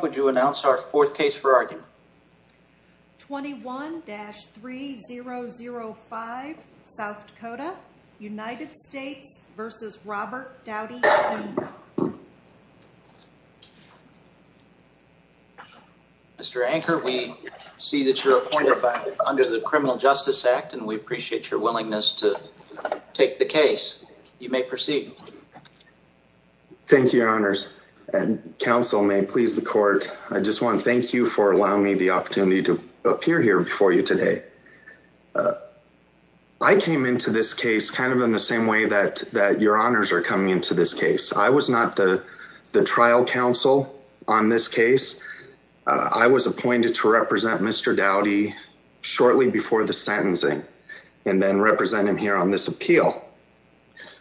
Would you announce our fourth case for argument? 21-3005, South Dakota, United States v. Robert Dowdy, Sr. Mr. Anker, we see that you're appointed under the Criminal Justice Act, and we appreciate your willingness to take the case. You may proceed. Thank you, Your Honors. And counsel may please the court. I just want to thank you for allowing me the opportunity to appear here before you today. I came into this case kind of in the same way that, that Your Honors are coming into this case. I was not the, the trial counsel on this case. I was appointed to represent Mr. Dowdy shortly before the sentencing, and then represent him here on this appeal.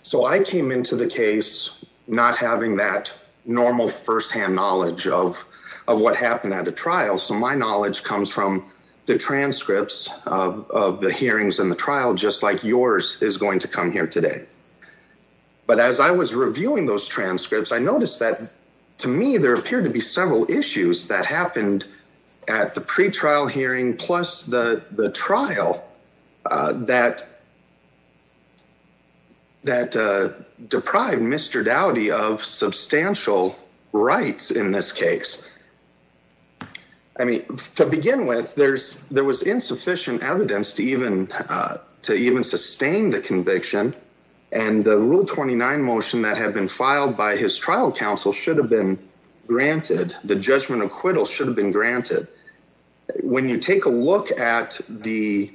So I came into the case not having that normal firsthand knowledge of, of what happened at a trial. So my knowledge comes from the transcripts of the hearings and the trial, just like yours is going to come here today. But as I was reviewing those transcripts, I noticed that to me, there appeared to be several issues that happened at the pretrial hearing, plus the, the trial that, that deprived Mr. Dowdy of substantial rights in this case. I mean, to begin with, there's, there was insufficient evidence to even, to even sustain the conviction. And the Rule 29 motion that had been filed by his trial counsel should have been granted. The judgment acquittal should have been granted. When you take a look at the,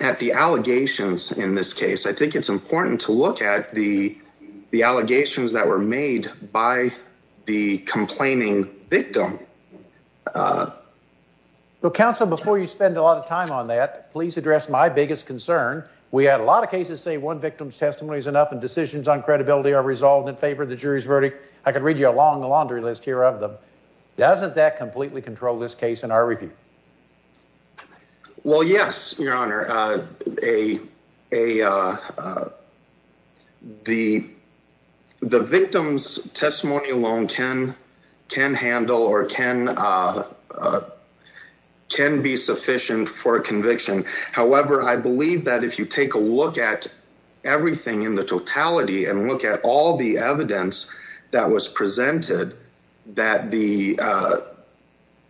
at the allegations in this case, I think it's important to look at the, the allegations that were made by the complaining victim. Well, counsel, before you spend a lot of time on that, please address my biggest concern. We had a lot of cases say one victim's testimony is enough and decisions on credibility are resolved in favor of the jury's verdict. I could read you a long laundry list here of them. Doesn't that completely control this case in our review? Well, yes, your honor, a, a the, the victim's testimony alone can, can handle or can, can be sufficient for a conviction, however, I believe that if you take a look at everything in the totality and look at all the evidence that was presented, that the, uh,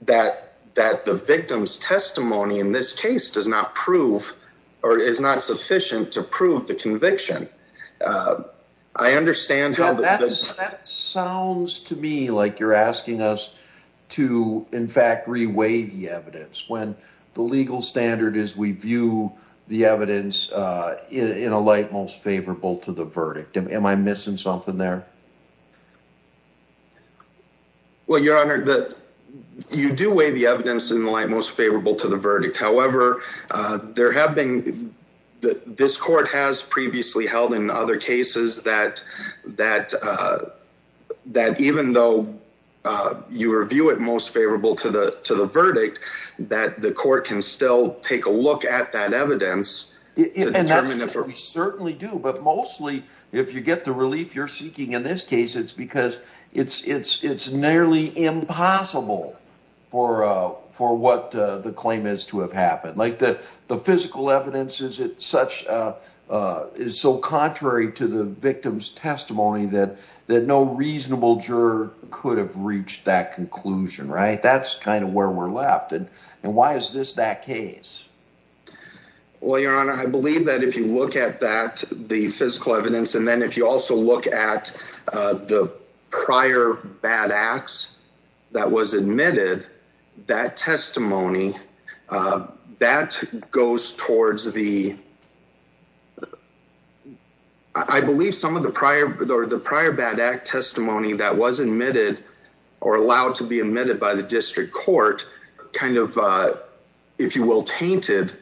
that, that the victim's testimony in this case does not prove or is not sufficient to prove the conviction. Uh, I understand how that sounds to me. Like you're asking us to in fact, reweigh the evidence when the legal standard is we view the evidence, uh, in a light, most favorable to the verdict. Am I missing something there? Well, your honor, that you do weigh the evidence in the light, most favorable to the verdict. However, uh, there have been, that this court has previously held in other cases that, that, uh, that even though, uh, you review it most favorable to the, to the verdict, that the court can still take a look at that evidence. And that's what we certainly do. But mostly if you get the relief you're seeking in this case, it's because it's, it's, it's nearly impossible for, uh, for what, uh, the claim is to have happened. Like the, the physical evidence is it such, uh, uh, is so contrary to the victim's testimony that, that no reasonable juror could have reached that conclusion, right? That's kind of where we're left. And, and why is this that case? Well, your honor, I believe that if you look at that, the physical evidence, and then if you also look at, uh, the prior bad acts that was admitted, that testimony, uh, that goes towards the, I believe some of the prior or the prior bad act testimony that was admitted or allowed to be admitted by the district court, kind of, uh, if you will, tainted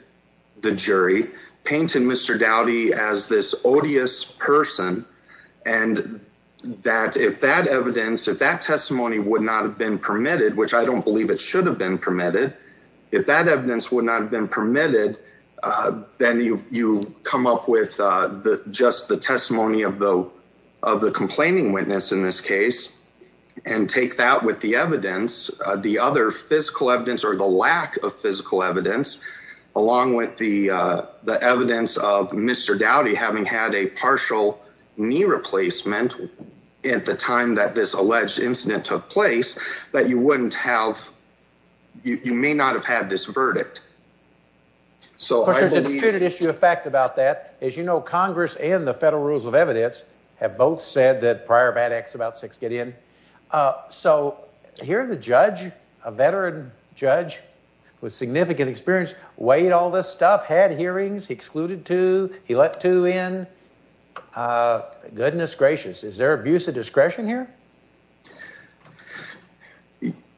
the jury painted Mr. Dowdy as this odious person. And that if that evidence, if that testimony would not have been permitted, which I don't believe it should have been permitted, if that evidence would not have been permitted, uh, then you, you come up with, uh, the, just the testimony of the, of the complaining witness in this case and take that with the evidence, uh, the other physical evidence or the lack of physical evidence along with the, uh, the evidence of Mr. Dowdy having had a partial knee replacement at the time that this alleged incident took place, that you wouldn't have, you may not have had this verdict. So there's a disputed issue of fact about that. As you know, Congress and the federal rules of evidence have both said that prior bad acts about six get in. Uh, so here are the judge, a veteran judge with significant experience, weighed all this stuff, had hearings, excluded two, he let two in, uh, goodness gracious. Is there abuse of discretion here?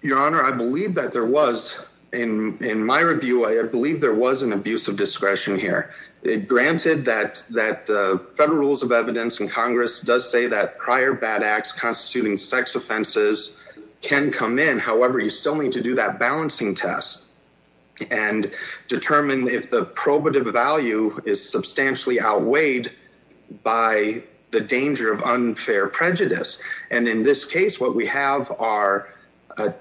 Your honor, I believe that there was in, in my review, I believe there was an abuse of discretion here. It granted that, that the federal rules of evidence in Congress does say that sexual assault and sex offenses can come in. However, you still need to do that balancing test and determine if the probative value is substantially outweighed by the danger of unfair prejudice. And in this case, what we have are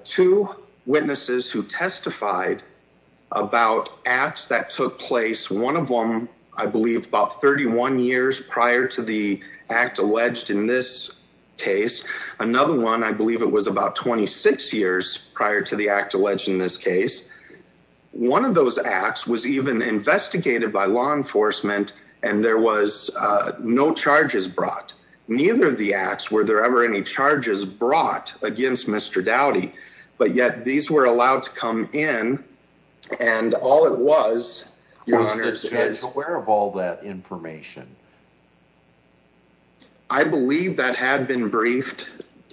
two witnesses who testified about acts that took place. One of them, I believe about 31 years prior to the act alleged in this case. Another one, I believe it was about 26 years prior to the act alleged in this case. One of those acts was even investigated by law enforcement and there was no charges brought. Neither of the acts were there ever any charges brought against Mr. Dowdy, but yet these were allowed to come in and all it was. Was the judge aware of all that information? I believe that had been briefed.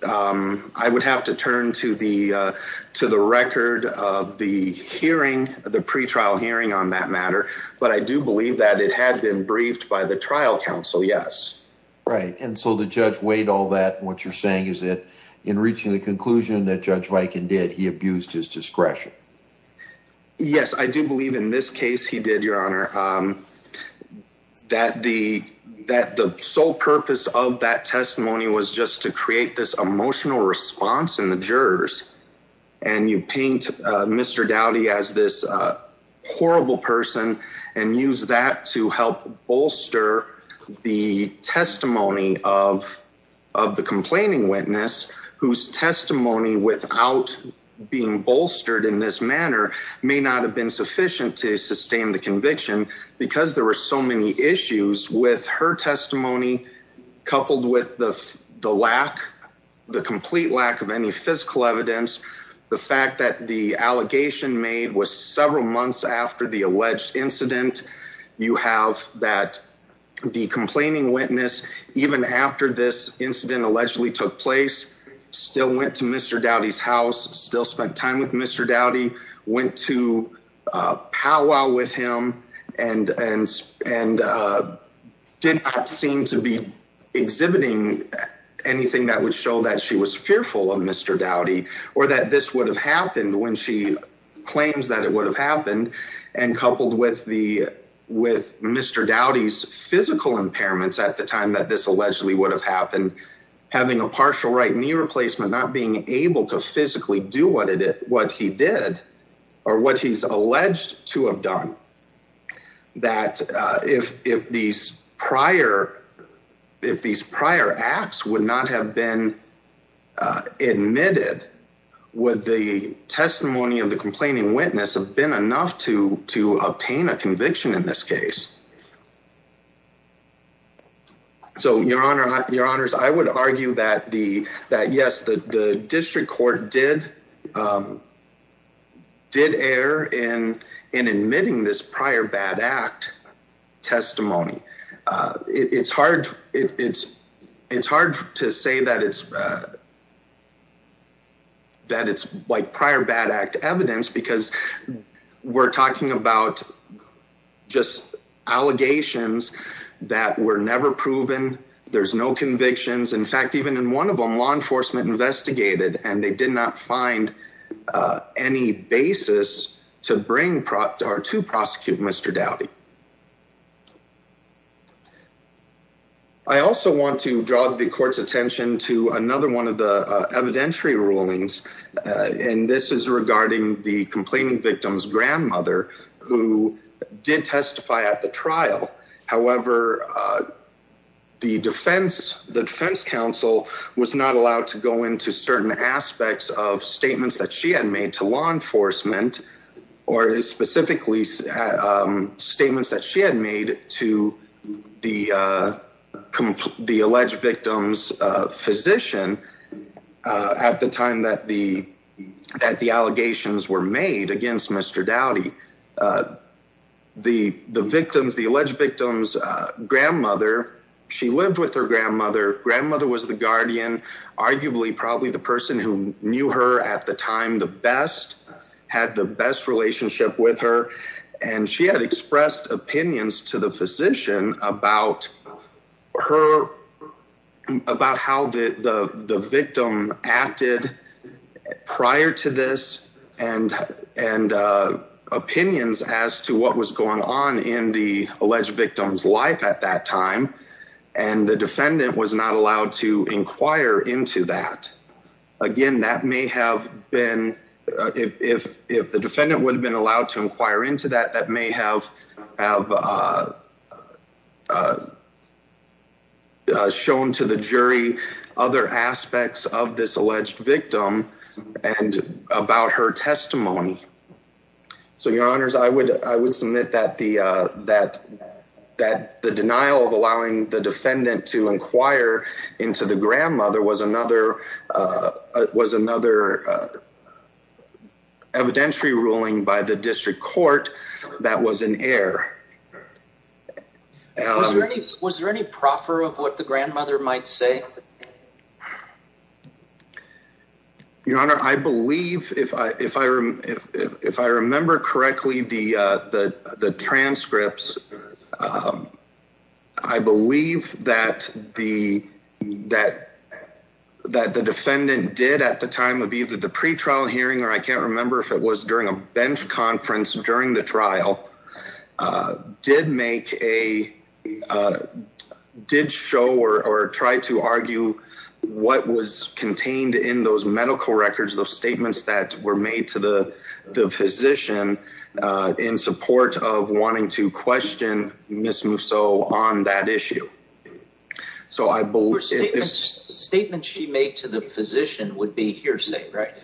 I would have to turn to the, to the record of the hearing, the pre-trial hearing on that matter. But I do believe that it had been briefed by the trial council. Yes. Right. And so the judge weighed all that and what you're saying is that in reaching the conclusion that Judge Viken did, he abused his discretion. Yes, I do believe in this case he did, Your Honor, that the, that the sole purpose of that testimony was just to create this emotional response in the jurors. And you paint Mr. Dowdy as this horrible person and use that to help bolster the testimony of, of the complaining witness whose testimony without being bolstered in this manner may not have been sufficient to sustain the conviction because there were so many issues with her testimony, coupled with the, the lack, the complete lack of any physical evidence. The fact that the allegation made was several months after the alleged incident, you have that the complaining witness, even after this incident allegedly took place, still went to Mr. Dowdy's house, still spent time with Mr. Dowdy, went to a powwow with him and, and, and did not seem to be exhibiting anything that would show that she was fearful of Mr. Dowdy or that this would have happened when she claims that it would have happened and coupled with the, with Mr. Dowdy's physical impairments at the time that this allegedly would have been enough to, to obtain a conviction in this case. So your honor, your honors, I would argue that the, that yes, the district court did, did err in, in admitting this prior bad act testimony. It's hard. It's, it's hard to say that it's, that it's like prior bad act evidence, because we're talking about just allegations that were never proven. There's no convictions. In fact, even in one of them, law enforcement investigated and they did not find any basis to bring, or to prosecute Mr. Dowdy. I also want to draw the court's attention to another one of the evidentiary rulings. And this is regarding the complaining victim's grandmother who did testify at the trial. However, the defense, the defense counsel was not allowed to go into certain aspects of statements that she had made to law enforcement or specifically statements that she had made to the, the alleged victim's physician at the time that the, that the allegations were made against Mr. Dowdy, the, the victims, the alleged victims, grandmother, she lived with her grandmother. Grandmother was the guardian, arguably, probably the person who knew her at the time, the best, had the best relationship with her. And she had expressed opinions to the physician about her, about how the, the victim acted prior to this and, and opinions as to what was going on in the alleged victim's life at that time. And the defendant was not allowed to inquire into that. Again, that may have been, if, if, if the defendant would have been allowed to inquire into that, that may have, have shown to the jury other aspects of this alleged victim and about her testimony. So your honors, I would, I would submit that the, that, that the denial of allowing the defendant to inquire into the grandmother was another, was another evidentiary ruling by the district court that was an error. Was there any proffer of what the grandmother might say? Your honor, I believe if I, if I, if, if, if I remember correctly, the, the, the pretrial hearing, or I can't remember if it was during a bench conference during the trial, did make a, did show or, or tried to argue what was contained in those medical records, those statements that were made to the, the physician in support of wanting to question Ms. Musso on that issue. So I believe statements she made to the physician would be hearsay, right? Right.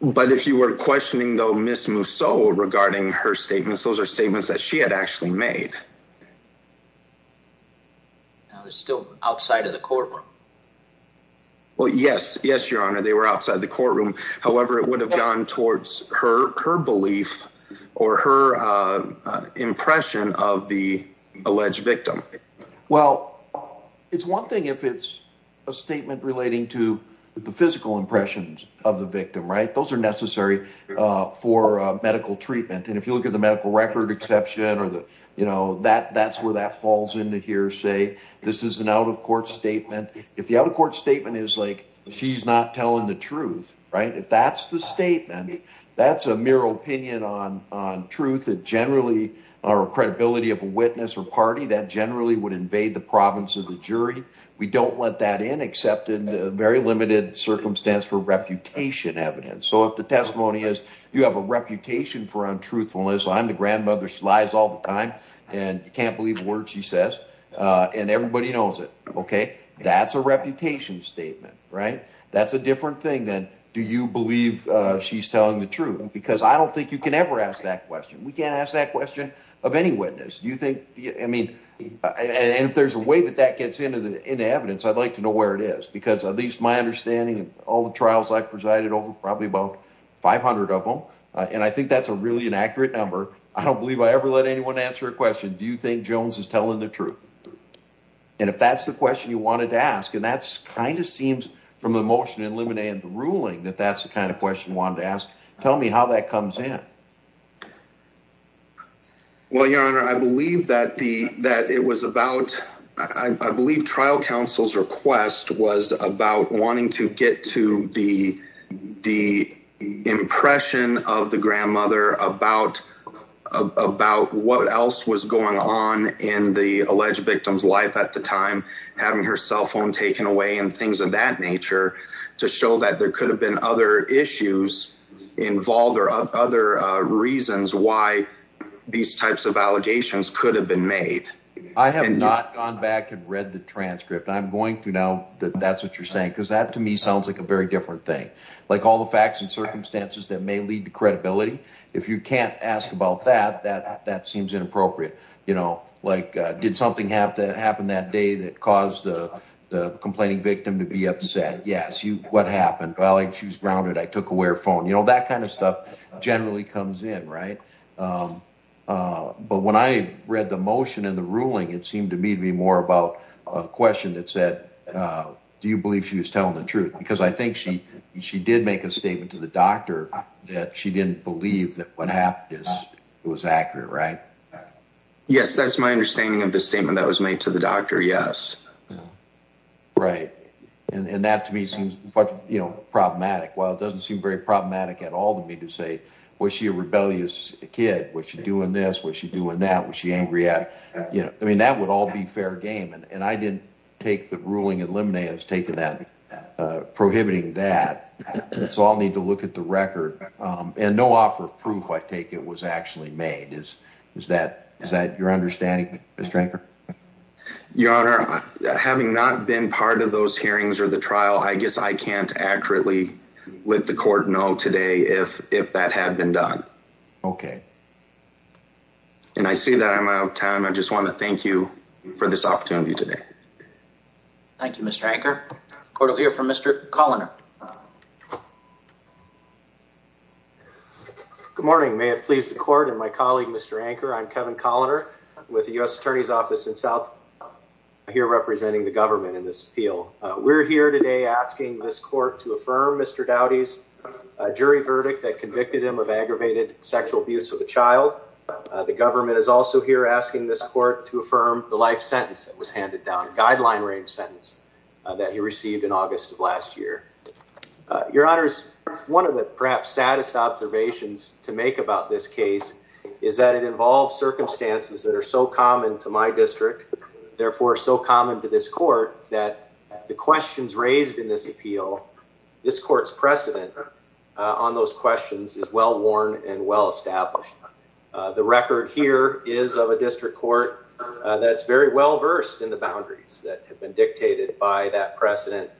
But if you were questioning though, Ms. Musso regarding her statements, those are statements that she had actually made. Now there's still outside of the courtroom. Well, yes, yes, your honor. They were outside the courtroom. However, it would have gone towards her, her belief or her impression of the alleged victim. Well, it's one thing if it's a statement relating to the physical impressions of the victim, right? Those are necessary for medical treatment. And if you look at the medical record exception or the, you know, that, that's where that falls into hearsay. This is an out of court statement. If the out of court statement is like, she's not telling the truth, right? If that's the statement, that's a mirror opinion on, on truth. Generally our credibility of a witness or party that generally would invade the province of the jury. We don't let that in except in a very limited circumstance for reputation evidence. So if the testimony is you have a reputation for untruthfulness, I'm the grandmother. She lies all the time and you can't believe a word she says. And everybody knows it. Okay. That's a reputation statement, right? That's a different thing than do you believe she's telling the truth? Because I don't think you can ever ask that question. We can't ask that question of any witness. Do you think, I mean, and if there's a way that that gets into the, into evidence, I'd like to know where it is because at least my understanding of all the trials I've presided over probably about 500 of them. And I think that's a really inaccurate number. I don't believe I ever let anyone answer a question. Do you think Jones is telling the truth? And if that's the question you wanted to ask, and that's kind of seems from the motion in limine and the ruling that that's the kind of question we wanted to ask, tell me how that comes in. Well, your honor, I believe that the, that it was about, I believe trial counsel's request was about wanting to get to the, the impression of the grandmother about, about what else was going on in the alleged victim's life at the time, having her cell phone taken away and things of that nature to show that there could have been other issues involved or other reasons why these types of allegations could have been made. I have not gone back and read the transcript. I'm going through now that that's what you're saying. Cause that to me sounds like a very different thing. Like all the facts and circumstances that may lead to credibility. If you can't ask about that, that, that seems inappropriate. You know, like did something have to happen that day that caused the complaining victim to be upset? Yes. You, what happened? Well, I choose grounded. I took away her phone. That kind of stuff generally comes in. Right. But when I read the motion and the ruling, it seemed to me to be more about a question that said, do you believe she was telling the truth? Because I think she, she did make a statement to the doctor that she didn't believe that what happened is it was accurate, right? Yes. That's my understanding of the statement that was made to the doctor. Yes. Right. And that to me seems problematic. While it doesn't seem very problematic at all to me to say, was she a rebellious kid? Was she doing this? Was she doing that? Was she angry at, you know, I mean, that would all be fair game. And I didn't take the ruling and limine has taken that, uh, prohibiting that. So I'll need to look at the record. Um, and no offer of proof, I take it was actually made is, is that, is that your understanding? Mr. Your honor, having not been part of those hearings or the trial, I guess I can't accurately let the court know today if, if that had been done. Okay. And I see that I'm out of time. I just want to thank you for this opportunity today. Thank you, Mr. Anker. Court will hear from Mr. Colliner. Good morning. May it please the court and my colleague, Mr. Anker. I'm Kevin Colliner with the U S attorney's office in South here representing the government in this appeal. We're here today asking this court to affirm Mr. Dowdy's jury verdict that convicted him of aggravated sexual abuse of a child. The government is also here asking this court to affirm the life sentence that was handed down guideline range sentence that he received in August of last year. Your honors. One of the perhaps saddest observations to make about this case is that it involves circumstances that are so common to my district, therefore so common to this court that the questions raised in this appeal, this court's precedent on those questions is well-worn and well-established. The record here is of a district court that's very well-versed in the boundaries that have been dictated by that precedent.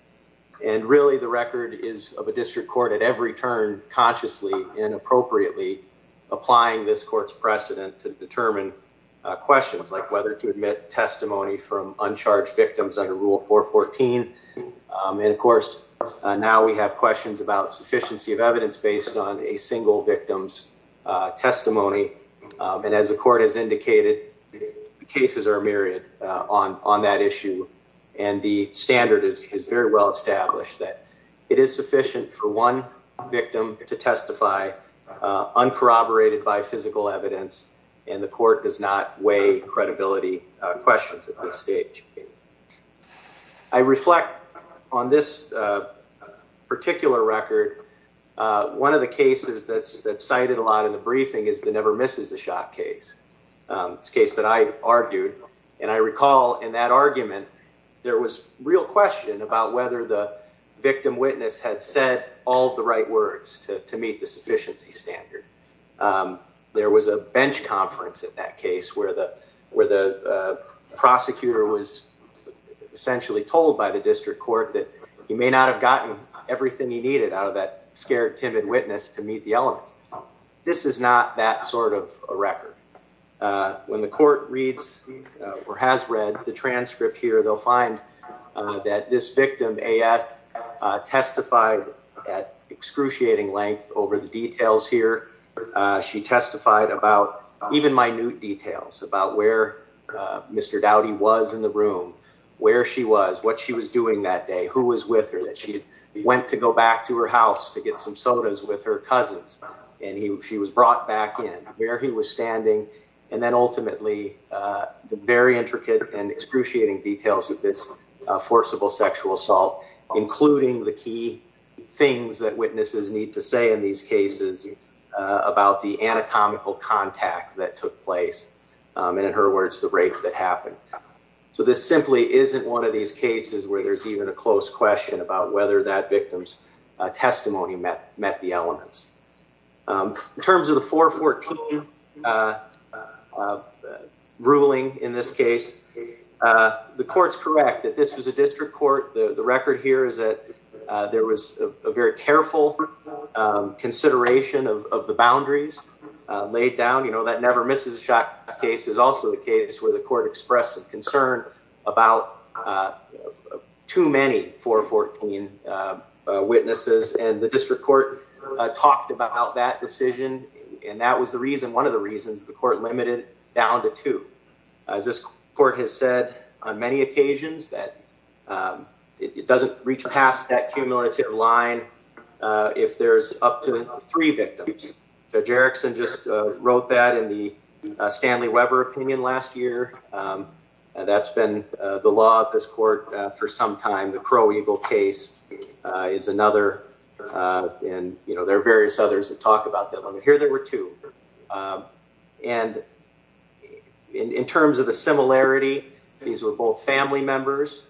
And really the record is of a district court at every turn consciously and appropriately applying this court's precedent to determine questions like whether to admit testimony from uncharged victims under rule 414. And of course, now we have questions about sufficiency of evidence based on a single victim's testimony. And as the court has indicated, cases are myriad on that issue. And the standard is very well-established that it is sufficient for one victim to testify uncorroborated by physical evidence and the court does not weigh credibility questions at this stage. I reflect on this particular record, one of the cases that's cited a lot in the briefing is the never misses the shot case. It's a case that I argued and I recall in that argument there was real question about whether the victim witness had said all the right words to meet the sufficiency standard. There was a bench conference in that case where the prosecutor was essentially told by the district court that he may not have gotten everything he needed out of that scared timid witness to meet the elements. This is not that sort of a record. When the court reads or has read the transcript here, they'll find that this victim A.S. testified at excruciating length over the details here. She testified about even minute details about where Mr. Dowdy was in the room, where she was, what she was doing that day, who was with her, that she went to go back to her house to get some sodas with her cousins. She was brought back in, where he was standing, and then ultimately the very intricate and excruciating details of this forcible sexual assault, including the key things that witnesses need to say in these cases about the anatomical contact that took place, and in her words, the rape that happened. So this simply isn't one of these cases where there's even a close question about whether that victim's testimony met the elements. In terms of the 414 ruling in this case, the court's correct that this was a district court. The record here is that there was a very careful consideration of the boundaries laid down. You know, that Never Misses a Shot case is also the case where the court expressed some about too many 414 witnesses, and the district court talked about that decision, and that was the reason, one of the reasons, the court limited it down to two. As this court has said on many occasions, that it doesn't reach past that cumulative line if there's up to three victims. Judge Erickson just wrote that in the Stanley Weber opinion last year. That's been the law of this court for some time. The Crow Eagle case is another, and there are various others that talk about that limit. Here there were two. And in terms of the similarity, these were both family members.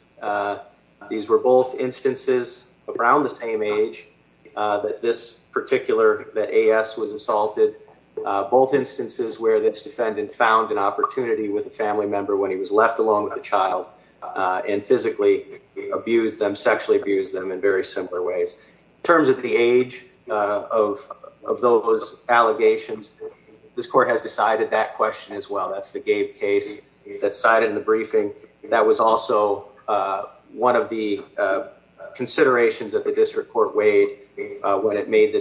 These were both instances around the same age that this particular, that A.S. was assaulted, both instances where this defendant found an opportunity with a family member when he was left alone with a child and physically abused them, sexually abused them in very simple ways. In terms of the age of those allegations, this court has decided that question as well. That's the Gabe case that's cited in the briefing. That was also one of the considerations that the district court weighed when it made the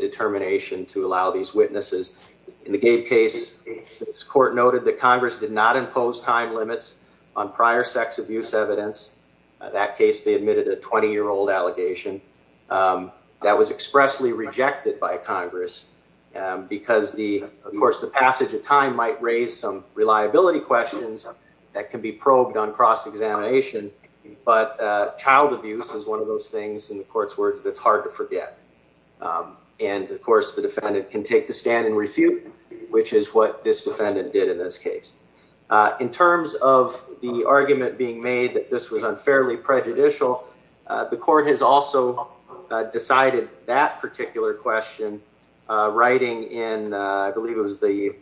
In the Gabe case, this court noted that Congress did not impose time limits on prior sex abuse evidence. That case, they admitted a 20-year-old allegation. That was expressly rejected by Congress because, of course, the passage of time might raise some reliability questions that can be probed on cross-examination, but child abuse is one of those things in the court's words that's hard to forget. And, of course, the defendant can take the stand and refute, which is what this defendant did in this case. In terms of the argument being made that this was unfairly prejudicial, the court has also decided that particular question, writing in, I believe it was the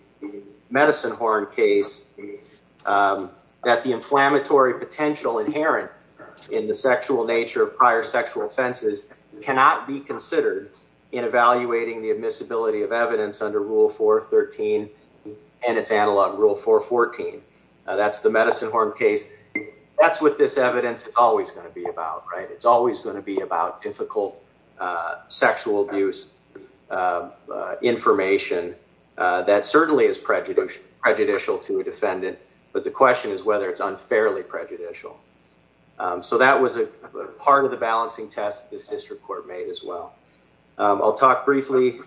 Medicine Horn case, that the inflammatory potential inherent in the sexual nature of prior sexual offenses cannot be considered in evaluating the admissibility of evidence under Rule 413 and its analog, Rule 414. That's the Medicine Horn case. That's what this evidence is always going to be about, right? It's always going to be about difficult sexual abuse information that certainly is prejudicial to a defendant, but the question is whether it's unfairly prejudicial. So that was a part of the balancing test this district court made as well. I'll talk briefly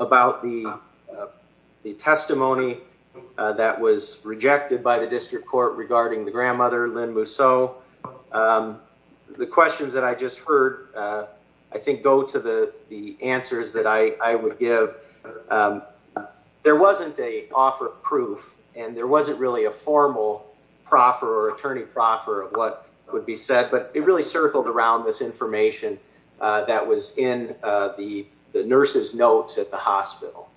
about the testimony that was rejected by the district court regarding the grandmother, Lynn Mousseau. The questions that I just heard, I think, go to the answers that I would give. There wasn't an offer of proof, and there wasn't really a formal proffer or attorney proffer of what would be said, but it really circled around this information that was in the nurse's notes at the hospital,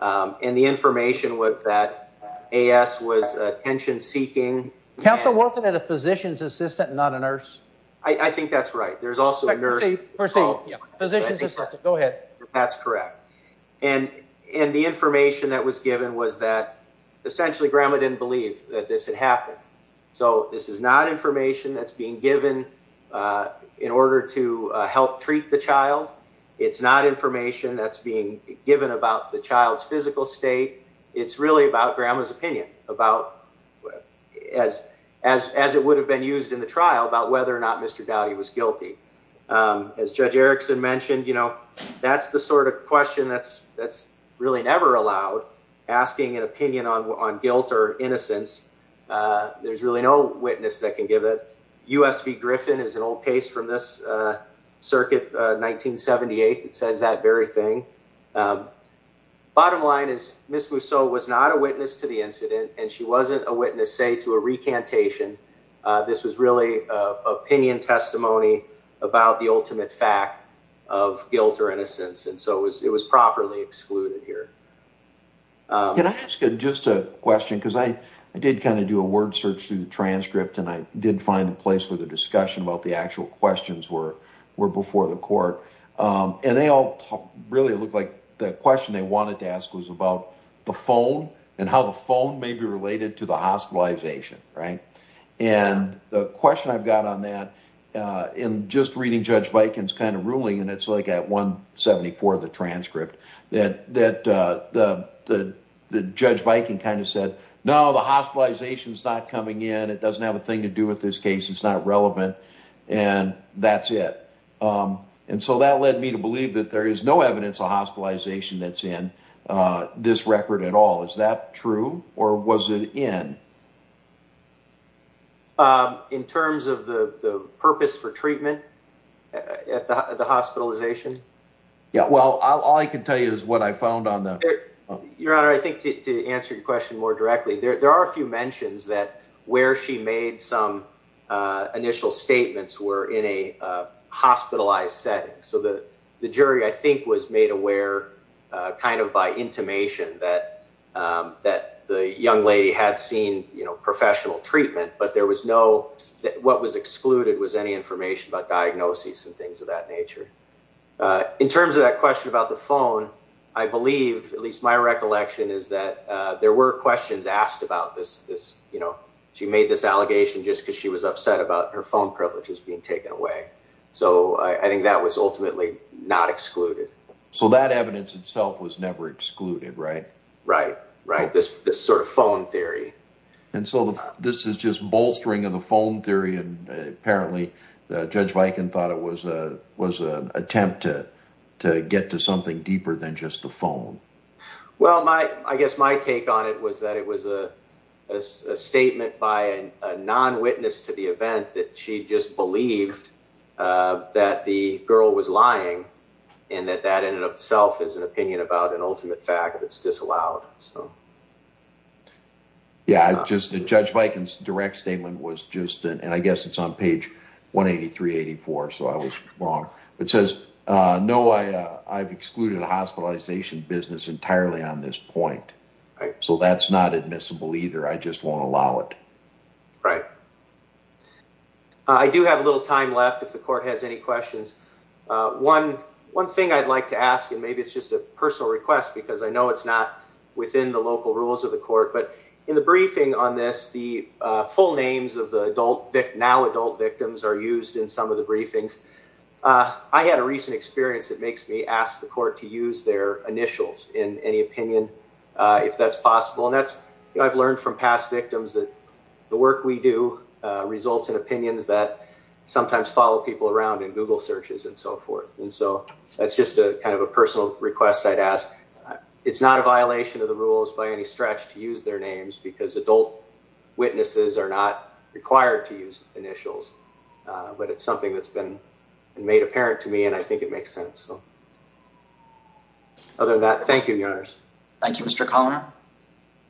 and the information was that A.S. was attention-seeking. Counsel, wasn't that a physician's assistant, not a nurse? I think that's right. There's also a nurse... Proceed, proceed. Physician's assistant, go ahead. That's correct, and the information that was given was that, essentially, grandma didn't believe that this had happened. So this is not information that's being given in order to help treat the child. It's not information that's being given about the child's physical state. It's really about grandma's opinion, as it would have been used in the trial, about whether or not Mr. Doughty was guilty. As Judge Erickson mentioned, that's the sort of question that's really never allowed, asking an opinion on guilt or innocence. There's really no witness that can give it. U.S. v. Griffin is an old case from this circuit, 1978. It says that very thing. Bottom line is, Ms. Mousseau was not a witness to the incident, and she wasn't a witness, say, to a recantation. This was really opinion testimony about the ultimate fact of guilt or innocence, and so it was properly excluded here. Can I ask just a question? Because I did kind of do a word search through the transcript, and I did find a place where the discussion about the actual questions were before the court. And they all really looked like the question they wanted to ask was about the phone and how the phone may be related to the hospitalization, right? And the question I've got on that, in just reading Judge Viken's kind of ruling, and it's like at 174 of the transcript, that Judge Viken kind of said, no, the hospitalization is not coming in. It doesn't have a thing to do with this case. It's not relevant. And that's it. And so that led me to believe that there is no evidence of hospitalization that's in this record at all. Is that true, or was it in? In terms of the purpose for treatment at the hospitalization? Yeah, well, all I can tell you is what I found on the. Your Honor, I think to answer your question more directly, there are a few mentions that where she made some initial statements were in a hospitalized setting. So the jury, I think, was made aware kind of by intimation that the young lady had seen professional treatment, but there was no that what was excluded was any information about diagnoses and things of that nature. In terms of that question about the phone, I believe, at least my recollection is that there were questions asked about this. She made this allegation just because she was upset about her phone privileges being taken away. So I think that was ultimately not excluded. So that evidence itself was never excluded, right? Right, right. This sort of phone theory. And so this is just bolstering of the phone theory. And apparently Judge Viken thought it was an attempt to get to something deeper than just the phone. Well, I guess my take on it was that it was a statement by a non witness to the event that she just believed that the girl was lying and that that in itself is an opinion about an ultimate fact that's disallowed. So, yeah, I just the Judge Viken's direct statement was just and I guess it's on page 183, 84. So I was wrong. It says, no, I've excluded a hospitalization business entirely on this point. So that's not admissible either. I just won't allow it. Right. I do have a little time left if the court has any questions. One one thing I'd like to ask, and maybe it's just a personal request, because I know it's within the local rules of the court. But in the briefing on this, the full names of the adult now adult victims are used in some of the briefings. I had a recent experience that makes me ask the court to use their initials in any opinion, if that's possible. And that's I've learned from past victims that the work we do results in opinions that sometimes follow people around in Google searches and so forth. And so that's just a kind of a personal request. I'd ask it's not a violation of the rules by any stretch to use their names because adult witnesses are not required to use initials. But it's something that's been made apparent to me. And I think it makes sense. So. Other than that, thank you. Yours. Thank you, Mr. Conner.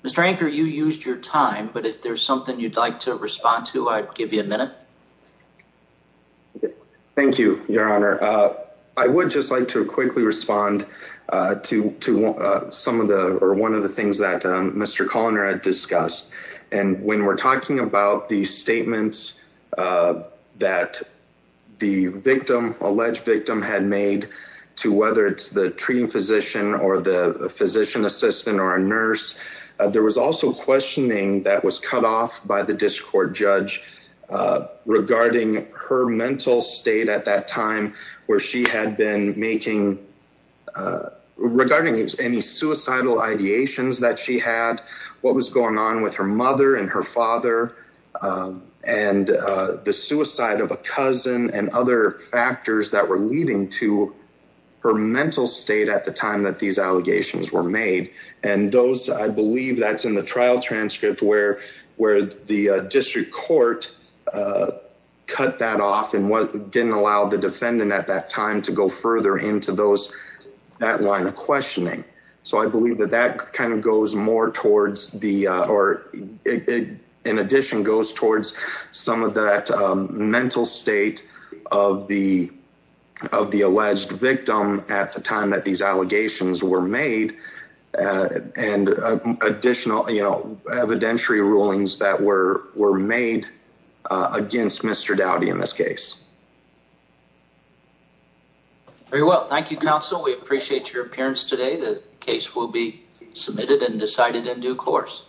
Mr. Anchor, you used your time. But if there's something you'd like to respond to, I'd give you a minute. Thank you, Your Honor. I would just like to quickly respond to some of the or one of the things that Mr. Conner had discussed. And when we're talking about the statements that the victim alleged victim had made to whether it's the treating physician or the physician assistant or a nurse, there was also questioning that was cut off by the district court judge regarding her mental state at that time where she had been making regarding any suicidal ideations that she had, what was going on with her mother and her father and the suicide of a cousin and other factors that were leading to her mental state at the time that these allegations were made. And those I believe that's in the trial transcript where where the district court cut that off and what didn't allow the defendant at that time to go further into those that line of questioning. So I believe that that kind of goes more towards the or in addition goes towards some of that mental state of the of the alleged victim at the time that these allegations were made and additional, you know, evidentiary rulings that were were made against Mr. Dowdy in this case. Very well. Thank you, counsel. We appreciate your appearance today. The case will be submitted and decided in due course.